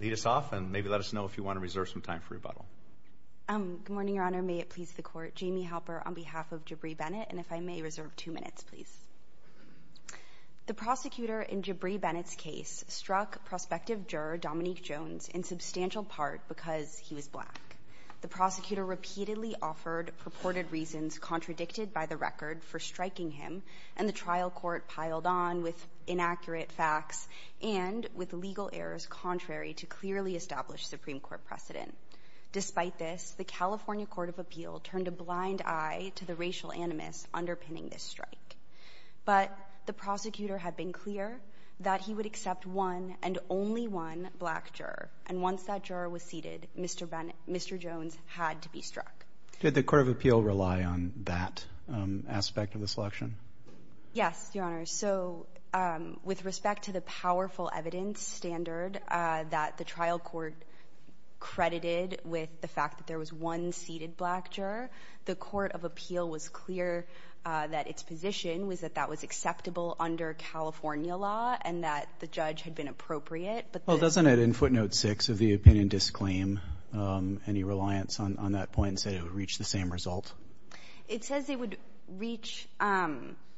Lead us off and maybe let us know if you want to reserve some time for rebuttal. Good morning, Your Honor. May it please the Court. Jamie Halper on behalf of Jabri Bennett and if I may reserve two minutes, please. The prosecutor in Jabri Bennett's case struck prospective juror Dominique Jones in substantial part because he was black. The prosecutor repeatedly offered purported reasons contradicted by the record for striking him and the trial court piled on with inaccurate facts and with legal errors contrary to clearly established Supreme Court precedent. Despite this, the California Court of Appeal turned a blind eye to the racial animus underpinning this strike. But the prosecutor had been clear that he would accept one and only one black juror and once that juror was seated, Mr. Jones had to be struck. Did the Court of Appeal rely on that aspect of the selection? Yes, Your Honor. So with respect to the powerful evidence standard that the trial court credited with the fact that there was one seated black juror, the Court of Appeal was clear that its position was that that was acceptable under California law and that the judge had been appropriate. Well, doesn't it in footnote six of the disclaim any reliance on that point and said it would reach the same result? It says it would reach,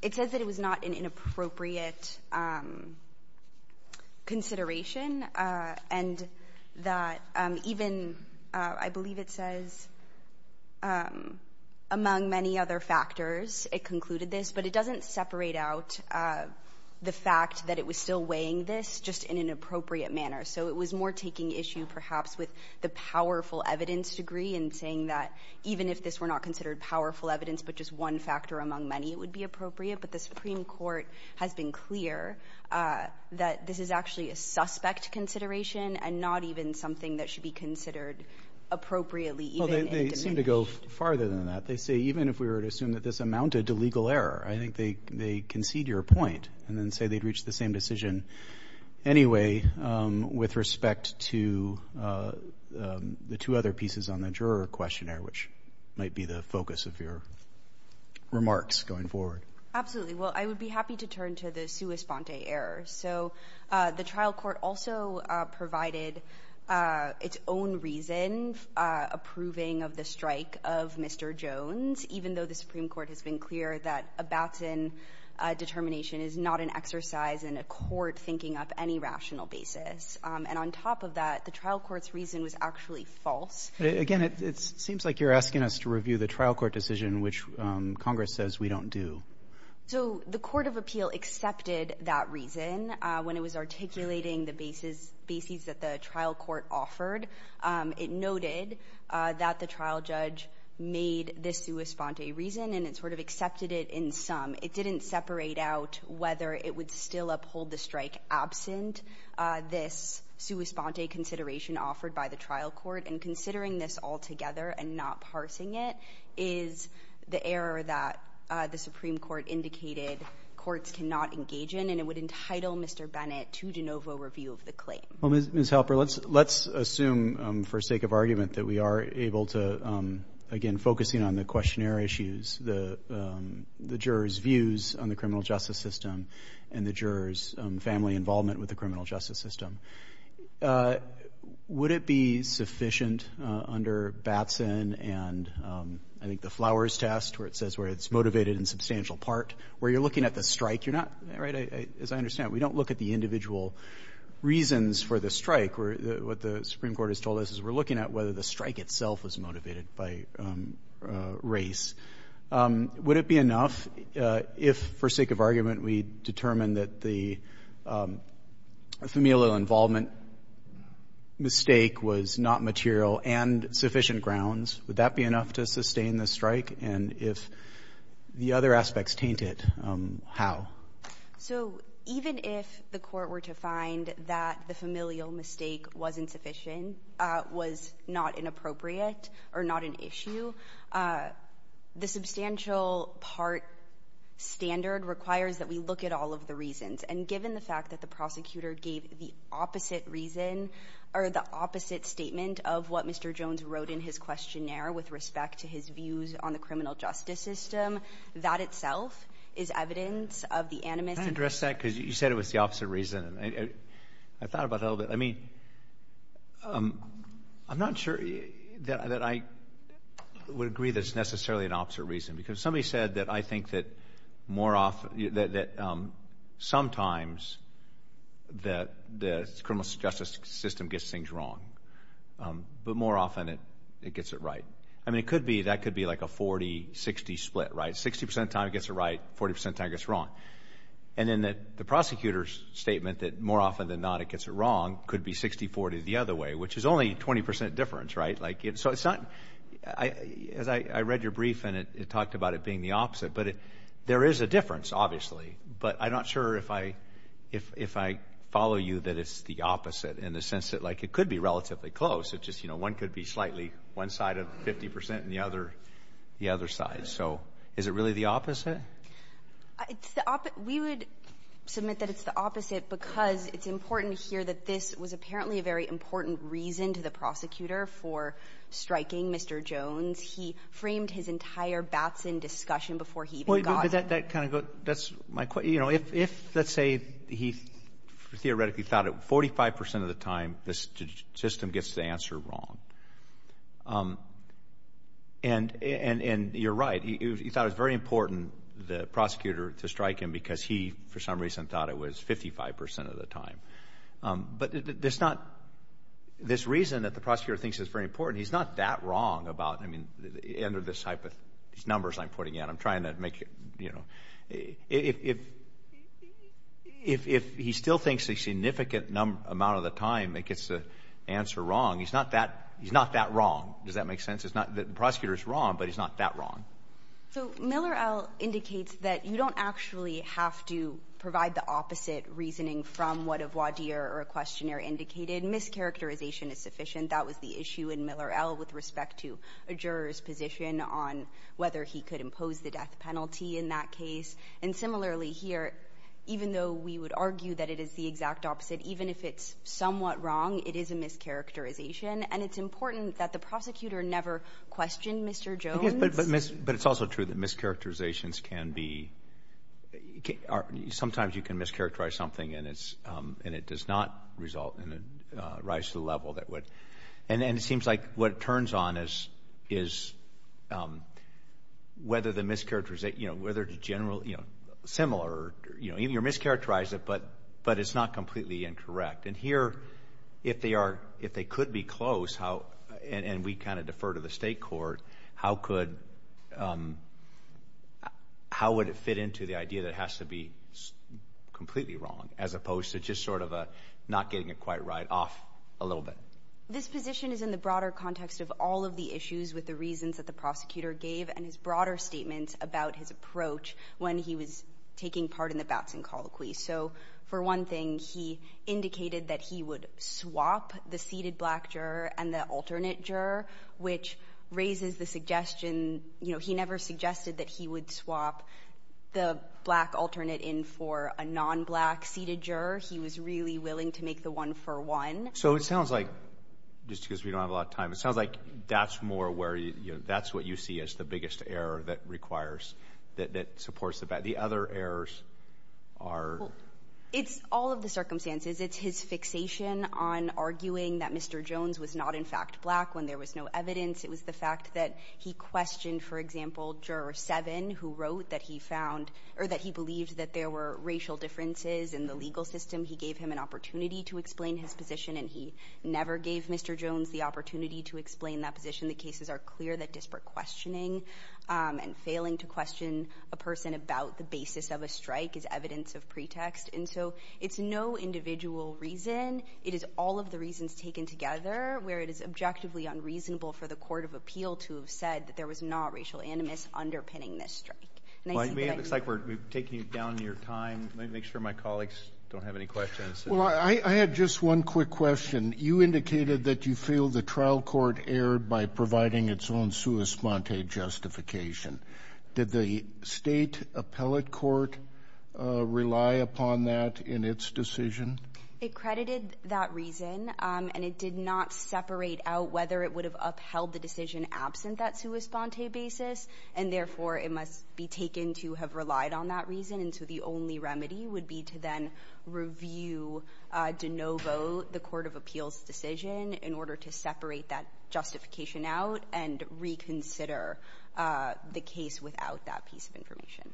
it says that it was not an inappropriate consideration and that even I believe it says among many other factors it concluded this, but it doesn't separate out the fact that it was still weighing this just in an appropriate manner. So it was more taking issue perhaps with the powerful evidence degree and saying that even if this were not considered powerful evidence but just one factor among many it would be appropriate, but the Supreme Court has been clear that this is actually a suspect consideration and not even something that should be considered appropriately. Well, they seem to go farther than that. They say even if we were to assume that this amounted to legal error, I think they concede your point and then say they'd reach the same decision anyway with respect to the two other pieces on the juror questionnaire which might be the focus of your remarks going forward. Absolutely. Well, I would be happy to turn to the sua sponte error. So the trial court also provided its own reason approving of the strike of Mr. Jones even though the Supreme Court has been clear that a baton determination is not an exercise in a court thinking up any rational basis and on top of that the trial court's reason was actually false. Again, it seems like you're asking us to review the trial court decision which Congress says we don't do. So the Court of Appeal accepted that reason when it was articulating the basis that the trial court offered. It noted that the trial judge made this sua sponte reason and it sort of accepted it in sum. It didn't separate out whether it would still uphold the strike absent this sua sponte consideration offered by the trial court and considering this altogether and not parsing it is the error that the Supreme Court indicated courts cannot engage in and it would entitle Mr. Bennett to de novo review of the claim. Well, Ms. Halper, let's assume for sake of argument that we are able to, again focusing on the questionnaire issues, the jurors views on the criminal justice system and the jurors family involvement with the criminal justice system. Would it be sufficient under Batson and I think the flowers test where it says where it's motivated in substantial part where you're looking at the strike you're not right as I understand we don't look at the individual reasons for the strike where what the Supreme Court has told us is we're looking at whether the strike itself was motivated by race. Would it be enough if for sake of argument we determined that the familial involvement mistake was not material and sufficient grounds? Would that be enough to sustain the strike and if the other aspects taint it, how? So even if the court were to find that the familial mistake wasn't sufficient, was not inappropriate or not an issue, the substantial part standard requires that we look at all of the reasons and given the fact that the prosecutor gave the opposite reason or the opposite statement of what Mr. Jones wrote in his questionnaire with respect to his views on the criminal justice system, that itself is evidence of the animus. Can I address that because you said it was the opposite reason and I thought about a little bit I mean I'm not sure that I would agree that's necessarily an opposite reason because somebody said that I think that sometimes the criminal justice system gets things wrong but more often it gets it right. I mean it could be that could be like a 40-60 split, right? 60% of the time it gets it right, 40% of the time it gets it wrong. And then that the prosecutor's statement that more often than not it gets it wrong could be 60-40 the other way, which is only 20% difference, right? So it's not as I read your brief and it talked about it being the opposite but it there is a difference obviously but I'm not sure if I if I follow you that it's the opposite in the sense that like it could be relatively close it's just you know one could be slightly one side of 50% and the other the other side so is it really the opposite? We would submit that it's the opposite because it's important to hear that this was apparently a very important reason to the prosecutor for striking Mr. Jones. He framed his entire Batson discussion before he even got... That kind of good that's my question you know if let's say he theoretically thought it 45% of the time this system gets the answer wrong and and and you're right he thought it's very important the prosecutor to strike him because he for some reason thought it was 55% of the time but there's not this reason that the prosecutor thinks is very important he's not that wrong about I mean under this type of numbers I'm putting in I'm trying to make you know if if he still thinks a significant number amount of the time it gets the answer wrong he's not that he's not that wrong does that make sense it's not that the prosecutor is wrong but he's not that wrong. So Miller L indicates that you don't actually have to provide the opposite reasoning from what a voir dire or a that was the issue in Miller L with respect to a jurors position on whether he could impose the death penalty in that case and similarly here even though we would argue that it is the exact opposite even if it's somewhat wrong it is a mischaracterization and it's important that the prosecutor never questioned Mr. Jones. But it's also true that mischaracterizations can be sometimes you can mischaracterize something and it's and it does not result in a rise to the level that would and then it seems like what it turns on is is whether the mischaracterization you know whether the general you know similar you know even your mischaracterize it but but it's not completely incorrect and here if they are if they could be close how and we kind of defer to the state court how could how would it fit into the idea that has to be completely wrong as opposed to just sort of a not getting it quite right off a little bit. This position is in the broader context of all of the issues with the reasons that the prosecutor gave and his broader statements about his approach when he was taking part in the Batson Colloquy. So for one thing he indicated that he would swap the seated black juror and the alternate juror which raises the suggestion you know he never suggested that he would swap the black alternate in for a non-black seated juror. He was really willing to make the one-for-one. So it sounds like just because we don't have a lot of time it sounds like that's more where you know that's what you see as the biggest error that requires that supports the bad. The other errors are it's all of the circumstances. It's his fixation on arguing that Mr. Jones was not in fact black when there was no evidence. It was the fact that he questioned for example juror 7 who wrote that he found or that he believed that there were racial differences in the legal system. He gave him an opportunity to explain his position and he never gave Mr. Jones the opportunity to explain that position. The cases are clear that disparate questioning and failing to question a person about the basis of a strike is evidence of pretext and so it's no individual reason. It is all of the reasons taken together where it is objectively unreasonable for the Court of Appeal to have said that there was not racial animus underpinning this strike. Looks like we're taking you down your time. Let me make sure my colleagues don't have any questions. Well I had just one quick question. You indicated that you feel the trial court erred by providing its own sua sponte justification. Did the state appellate court rely upon that in its decision? It credited that reason and it did not separate out whether it would have upheld the decision absent that sua sponte basis and therefore it must be taken to have relied on that reason and so the only remedy would be to then review de novo the Court of Appeals decision in order to separate that justification out and reconsider the case without that piece of information.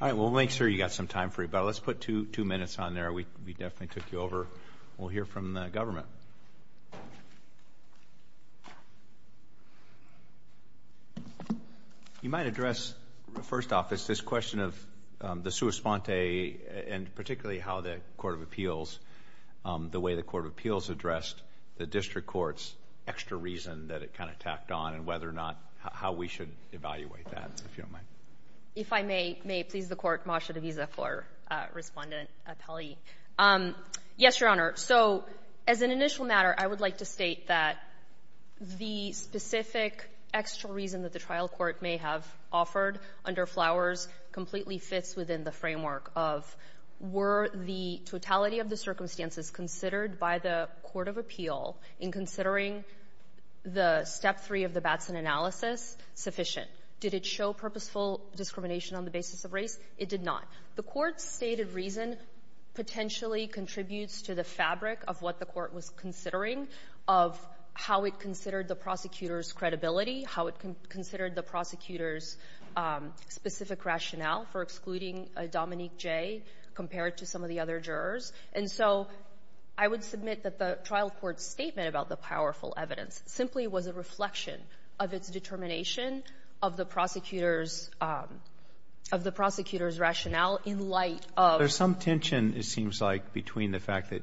All right we'll make sure you got some time for you but let's put two two minutes on there. We definitely took you over. We'll hear from the government. You might address first off is this question of the sua sponte and particularly how the Court of Appeals the way the Court of Appeals addressed the district courts extra reason that it kind of tacked on and whether or not how we should evaluate that if you don't mind. If I may, may please the Court, Masha DeVisa for respondent appellee. Yes, Your Honor. So as an initial matter, I would like to state that the specific extra reason that the trial court may have offered under Flowers completely fits within the framework of were the totality of the circumstances considered by the Court of Appeal in considering the step three of the Batson analysis sufficient. Did it show purposeful discrimination on the basis of race? It did not. The court's stated reason potentially contributes to the fabric of what the court was considering of how it considered the prosecutor's credibility, how it can consider the prosecutor's specific rationale for excluding Dominique Jay compared to some of the other jurors. And so I would submit that the trial court statement about the powerful evidence simply was a reflection of its determination of the prosecutor's of the prosecutor's rationale in light of. There's some tension it seems like between the fact that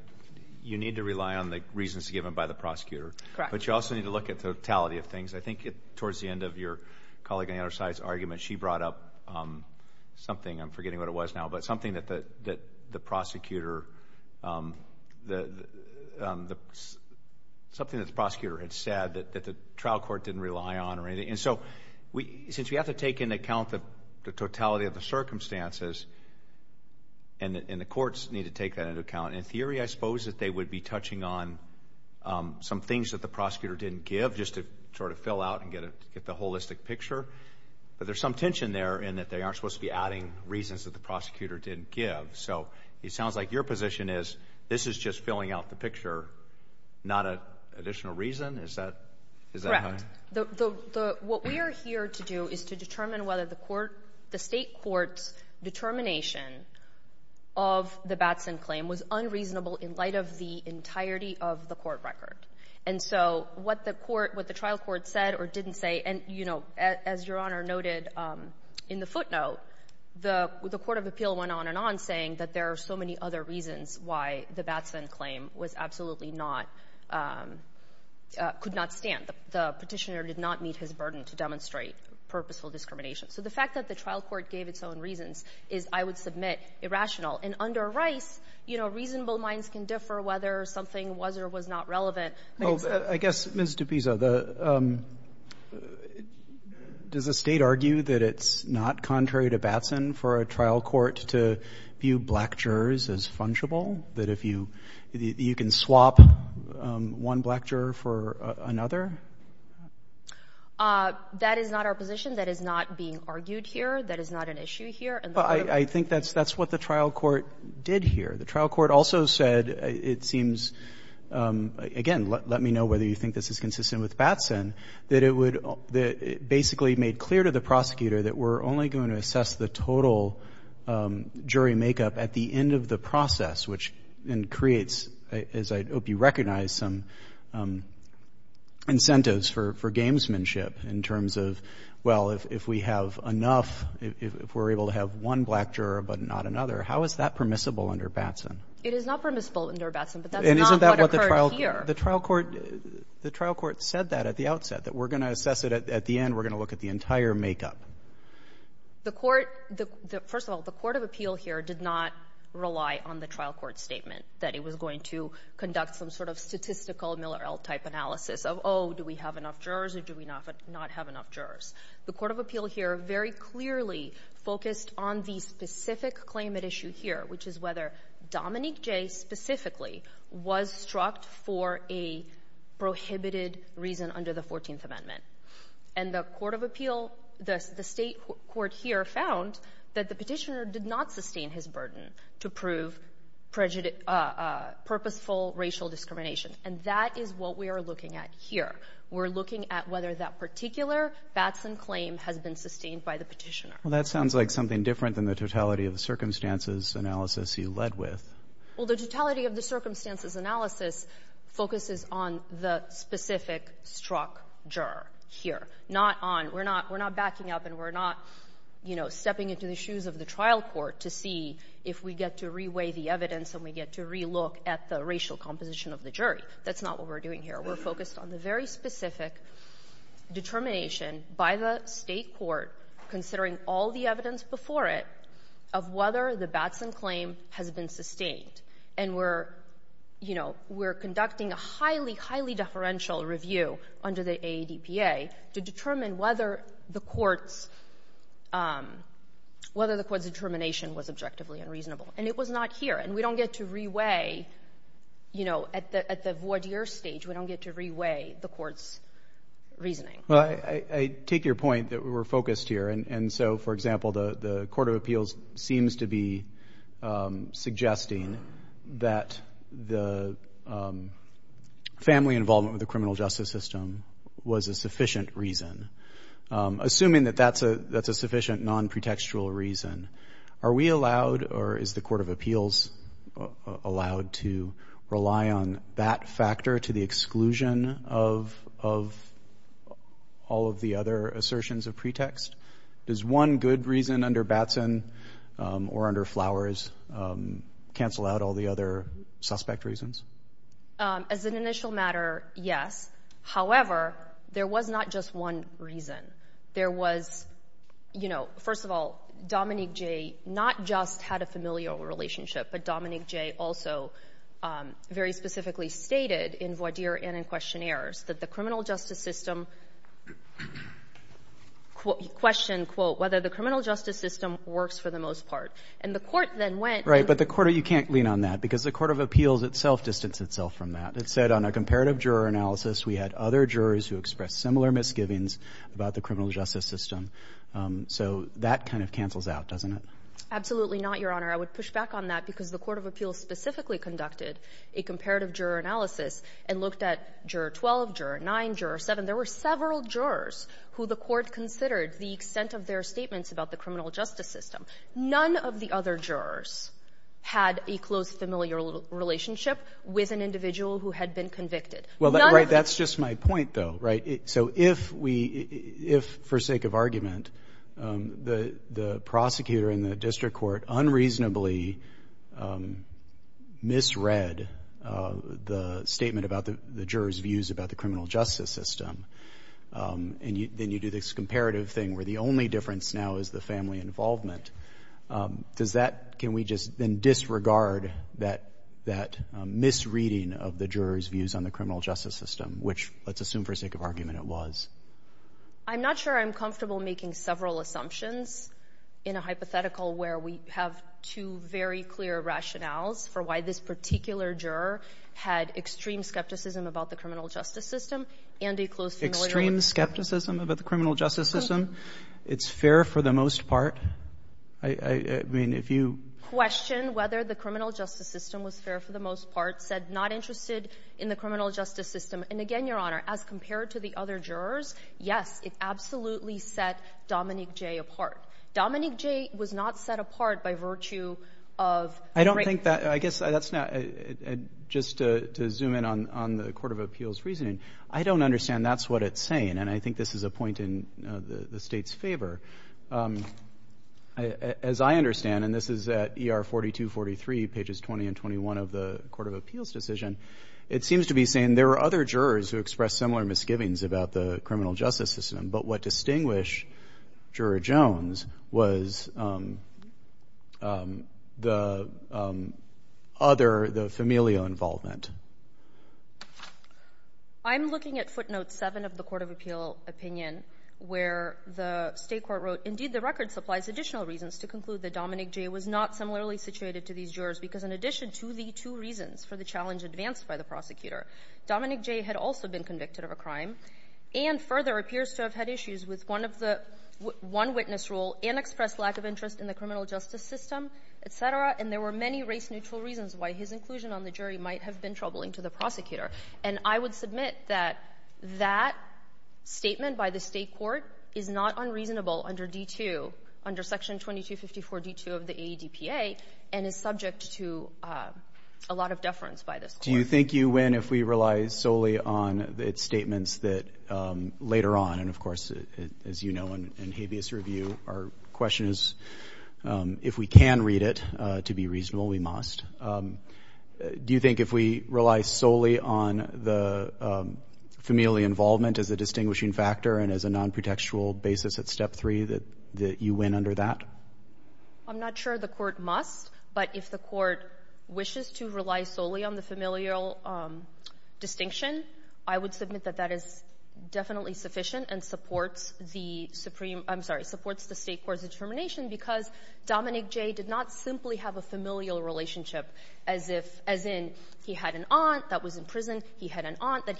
you need to rely on the reasons given by the prosecutor. Correct. But you also need to look at totality of things. I think it towards the end of your colleague on the other side's argument, she brought up something, I'm forgetting what it was now, but something that the prosecutor, that something that the prosecutor had said that the trial court didn't rely on or anything. And so we since we have to take into account the totality of the circumstances and the courts need to take that into account in theory, I suppose that they would be touching on some things that the prosecutor didn't give just to sort of fill out and get the holistic picture. But there's some tension there in that they aren't supposed to be adding reasons that the prosecutor didn't give. So it sounds like your position is this is just filling out the picture, not an additional reason. Is that correct? What we are here to do is to determine whether the court, the state court's determination of the Batson claim was unreasonable in light of the entirety of the court record. And so what the court, what the trial court said or didn't say, and you know as your Honor noted in the footnote, the Court of Appeal went on and on saying that there are so many other reasons why the Batson claim was absolutely not, could not stand. The petitioner did not meet his burden to demonstrate purposeful discrimination. So the fact that the trial court gave its own reasons is, I would submit, irrational. And under Rice, you know, reasonable minds can differ whether something was or was not relevant. I guess, Ms. DePisa, does the state argue that it's not contrary to Batson for a trial court to view black jurors as fungible? That if you, you can swap one black juror for another? That is not our position. That is not being argued here. That is not an issue here. But I think that's, that's what the trial court did here. The trial court also said, it seems, again let me know whether you think this is consistent with Batson, that it would, that it basically made clear to the prosecutor that we're only going to assess the total jury make-up at the end of the process, which then creates, as I hope you recognize, some incentives for gamesmanship in terms of, well, if we have enough, if we're able to have one black juror but not another, how is that permissible under Batson? It is not permissible under Batson, but that's not what occurred here. And isn't that what the trial court, the trial court said that at the outset, that we're going to assess it at the end, we're going to look at the entire make-up? The court, the, first of all, the court of appeal here did not rely on the trial court statement that it was going to conduct some sort of statistical Miller-Ell type analysis of, oh, do we have enough jurors or do we not have enough jurors? The court of appeal here very clearly focused on the specific claim at issue here, which is whether Dominique Jay specifically was struck for a prohibited reason under the 14th Amendment. And the court of appeal, the state court here found that the petitioner did not sustain his burden to prove purposeful racial discrimination. And that is what we are looking at here. We're looking at whether that particular Batson claim has been sustained by the petitioner. Well, that sounds like something different than the totality of the circumstances analysis he led with. Well, the totality of the circumstances analysis focuses on the specific struck juror here, not on, we're not, we're not backing up and we're not, you know, stepping into the shoes of the trial court to see if we get to reweigh the evidence and we get to relook at the racial composition of the jury. That's not what we're doing here. We're focused on the very specific determination by the state court, considering all the evidence before it, of whether the Batson claim has been sustained. And we're, you know, we're conducting a highly, highly deferential review under the ADPA to determine whether the court's, whether the court's determination was objectively unreasonable. And it was not here. And we don't get to reweigh, you know, at the, at the voir dire stage, we don't get to reweigh the court's reasoning. Well, I, I take your point that we were focused here. And, and so for example, the, the court of appeals seems to be suggesting that the family involvement with the criminal justice system was a sufficient reason. Assuming that that's a, that's a sufficient non-pretextual reason, are we allowed, or is the court of appeals allowed to rely on that factor to the exclusion of, of all of the other assertions of pretext? Does one good reason under Batson or under Flowers cancel out all the other suspect reasons? As an initial matter, yes. However, there was not just one reason. There was, you know, first of all, Dominique Jay not just had a familial relationship, but Dominique Jay also very specifically stated in voir dire and in questionnaires that the criminal justice system questioned, quote, whether the criminal justice system works for the most part. And the court then went... Right, but the court, you can't lean on that because the court of appeals itself distanced itself from that. It said on a comparative juror analysis, we had other jurors who expressed similar misgivings about the criminal justice system. So that kind of cancels out, doesn't it? Absolutely not, Your Honor. I would push back on that because the a comparative juror analysis and looked at juror 12, juror 9, juror 7. There were several jurors who the court considered the extent of their statements about the criminal justice system. None of the other jurors had a close familial relationship with an individual who had been convicted. Well, that's just my point though, right? So if we, if for sake of argument, the prosecutor in the district court unreasonably misread the statement about the jurors' views about the criminal justice system, and then you do this comparative thing where the only difference now is the family involvement. Does that, can we just then disregard that misreading of the jurors' views on the criminal justice system, which let's assume for sake of argument it was? I'm not sure I'm comfortable making several assumptions in a hypothetical where we have two very clear rationales for why this particular juror had extreme skepticism about the criminal justice system and a close familial relationship. Extreme skepticism about the criminal justice system? It's fair for the most part. I mean, if you... Question whether the criminal justice system was fair for the most part said not interested in the criminal justice system. And again, Your Honor, as compared to the other jurors, yes, it absolutely set Dominique Jay apart. Dominique Jay was not set apart by virtue of... I don't think that, I guess that's not, just to zoom in on the Court of Appeals reasoning, I don't understand that's what it's saying, and I think this is a point in the state's favor. As I understand, and this is at ER 4243, pages 20 and 21 of the Court of Appeals decision, it seems to be saying there were other jurors who expressed similar misgivings about the criminal justice system, but what distinguished Juror Jones was the other, the familial involvement. I'm looking at footnote seven of the Court of Appeal opinion where the state court wrote, indeed, the record supplies additional reasons to conclude that Dominique Jay was not similarly situated to these jurors because in addition to the two reasons for the challenge advanced by the prosecutor, Dominique Jay had also been convicted of a crime and further appears to have had issues with one witness rule and expressed lack of interest in the criminal justice system, et cetera, and there were many race neutral reasons why his inclusion on the jury might have been troubling to the prosecutor. And I would submit that that statement by the state court is not unreasonable under D2, under section 2254 D2 of the AEDPA, and is subject to a lot of deference by this court. Do you think you win if we rely solely on its statements that later on, and of course, as you know, in habeas review, our question is if we can read it to be reasonable, we must. Do you think if we rely solely on the familial involvement as a distinguishing factor and as a non-protectual basis at step three that you win under that? I'm not sure the court must, but if the court wishes to rely solely on the familial distinction, I would submit that that is definitely sufficient and supports the supreme, I'm sorry, supports the state court's determination because Dominique Jay did not simply have a that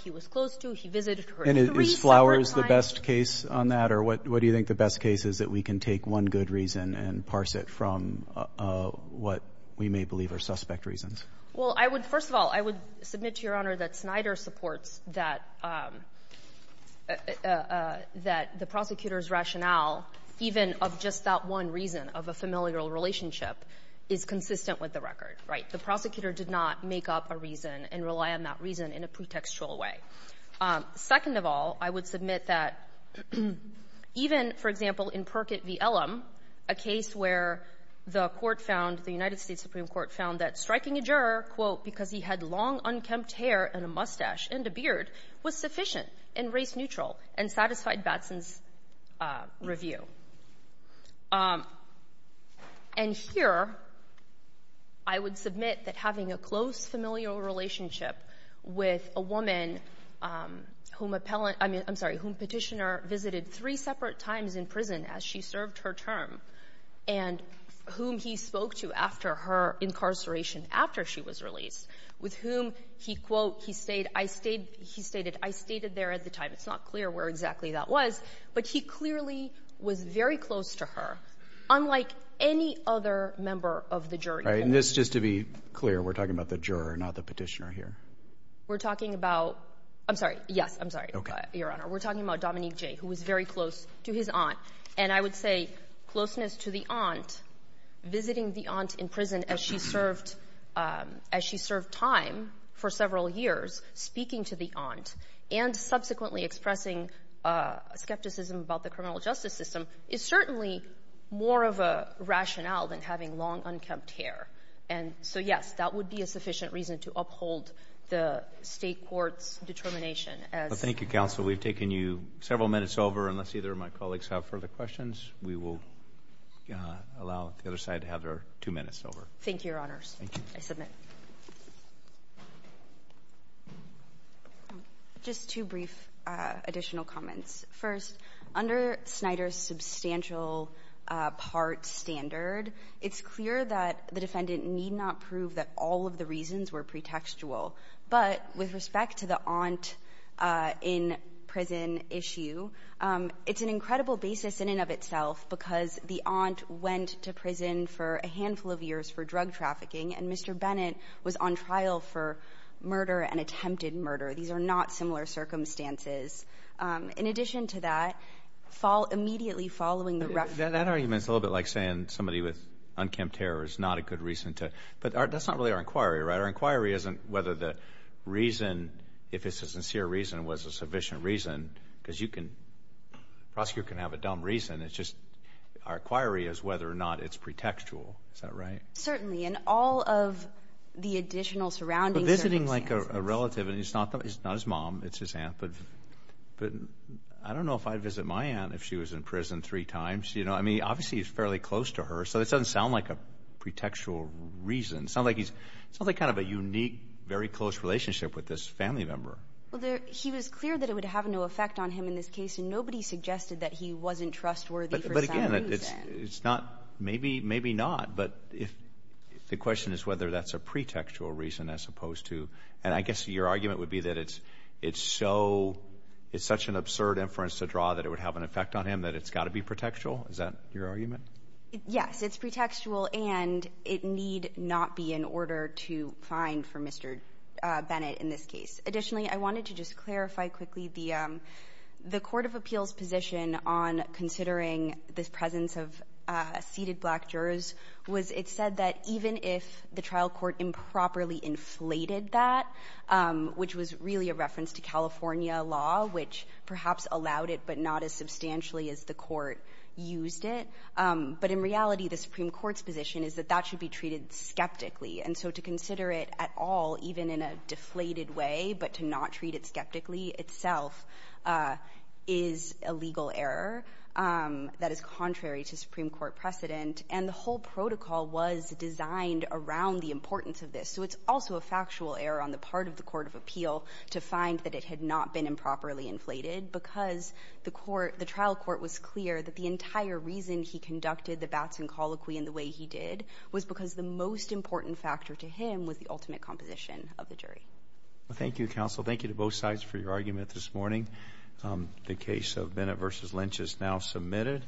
he was close to, he visited her three separate times. And is Flowers the best case on that, or what do you think the best case is that we can take one good reason and parse it from what we may believe are suspect reasons? Well, I would, first of all, I would submit to your honor that Snyder supports that the prosecutor's rationale, even of just that one reason of a familial relationship, is consistent with the record, right? The prosecutor did not make up a reason and rely on that reason in a pretextual way. Second of all, I would submit that even, for example, in Perkett v. Ellum, a case where the court found, the United States Supreme Court found that striking a juror, quote, because he had long unkempt hair and a mustache and a beard was sufficient and race neutral and satisfied Batson's review. And here, I would submit that having a close familial relationship with a woman whom Petitioner visited three separate times in prison as she served her term and whom he spoke to after her incarceration, after she was released, with whom he, quote, he stated, I stated there at the time, it's not clear where exactly that was, but he clearly was very close to her, unlike any other member of the jury. And this, just to be clear, we're talking about the juror, not the Petitioner here? We're talking about, I'm sorry, yes, I'm sorry, Your Honor. We're talking about Dominique Jay, who was very close to his aunt. And I would say closeness to the aunt, visiting the aunt in prison as she served, as she served time for several years, speaking to the aunt, and subsequently expressing skepticism about the criminal justice system, is certainly more of a rationale than having long, unkempt hair. And so, yes, that would be a sufficient reason to uphold the state court's determination as... Well, thank you, Counsel. We've taken you several minutes over. Unless either of my colleagues have further questions, we will allow the other side to have their two minutes over. Thank you, Your Honors. I submit. Just two brief additional comments. First, under Snyder's substantial part standard, it's clear that the defendant need not prove that all of the reasons were pretextual. But with respect to the aunt in prison issue, it's an incredible basis in and of itself, because the aunt went to prison for a handful of years for drug trafficking, and Mr. Bennett was on trial for murder and attempted murder. These are not similar circumstances. In addition to that, immediately following the... That argument's a little bit like saying somebody with unkempt hair is not a good reason to... But that's not really our inquiry, right? Our inquiry isn't whether the reason, if it's a sincere reason, was a sufficient reason, because prosecutors can have a dumb reason. It's just our inquiry is whether or not it's pretextual. Is that right? Certainly. And all of the additional surrounding circumstances... But I don't know if I'd visit my aunt if she was in prison three times. Obviously, it's fairly close to her, so it doesn't sound like a pretextual reason. It sounds like he's... It sounds like kind of a unique, very close relationship with this family member. Well, he was clear that it would have no effect on him in this case, and nobody suggested that he wasn't trustworthy for some reason. But again, it's not... Maybe not. But if the question is whether that's a pretextual reason as opposed to... And I guess your argument would be that it's such an absurd inference to draw that it would have an effect on him, that it's got to be pretextual. Is that your argument? Yes, it's pretextual, and it need not be in order to find for Mr. Bennett in this case. Additionally, I wanted to just clarify quickly the Court of Appeals position on considering this presence of seated black jurors was it said that even if the trial court improperly inflated that, which was really a reference to California law, which perhaps allowed it, but not as substantially as the court used it. But in reality, the Supreme Court's position is that that should be treated skeptically. And so to consider it at all, even in a deflated way, but to not treat it skeptically itself is a legal error that is contrary to Supreme Court precedent. And the whole was designed around the importance of this. So it's also a factual error on the part of the Court of Appeal to find that it had not been improperly inflated because the trial court was clear that the entire reason he conducted the Batson Colloquy in the way he did was because the most important factor to him was the ultimate composition of the jury. Well, thank you, counsel. Thank you to both sides for your argument this morning. The case of Bennett v. Lynch is now submitted.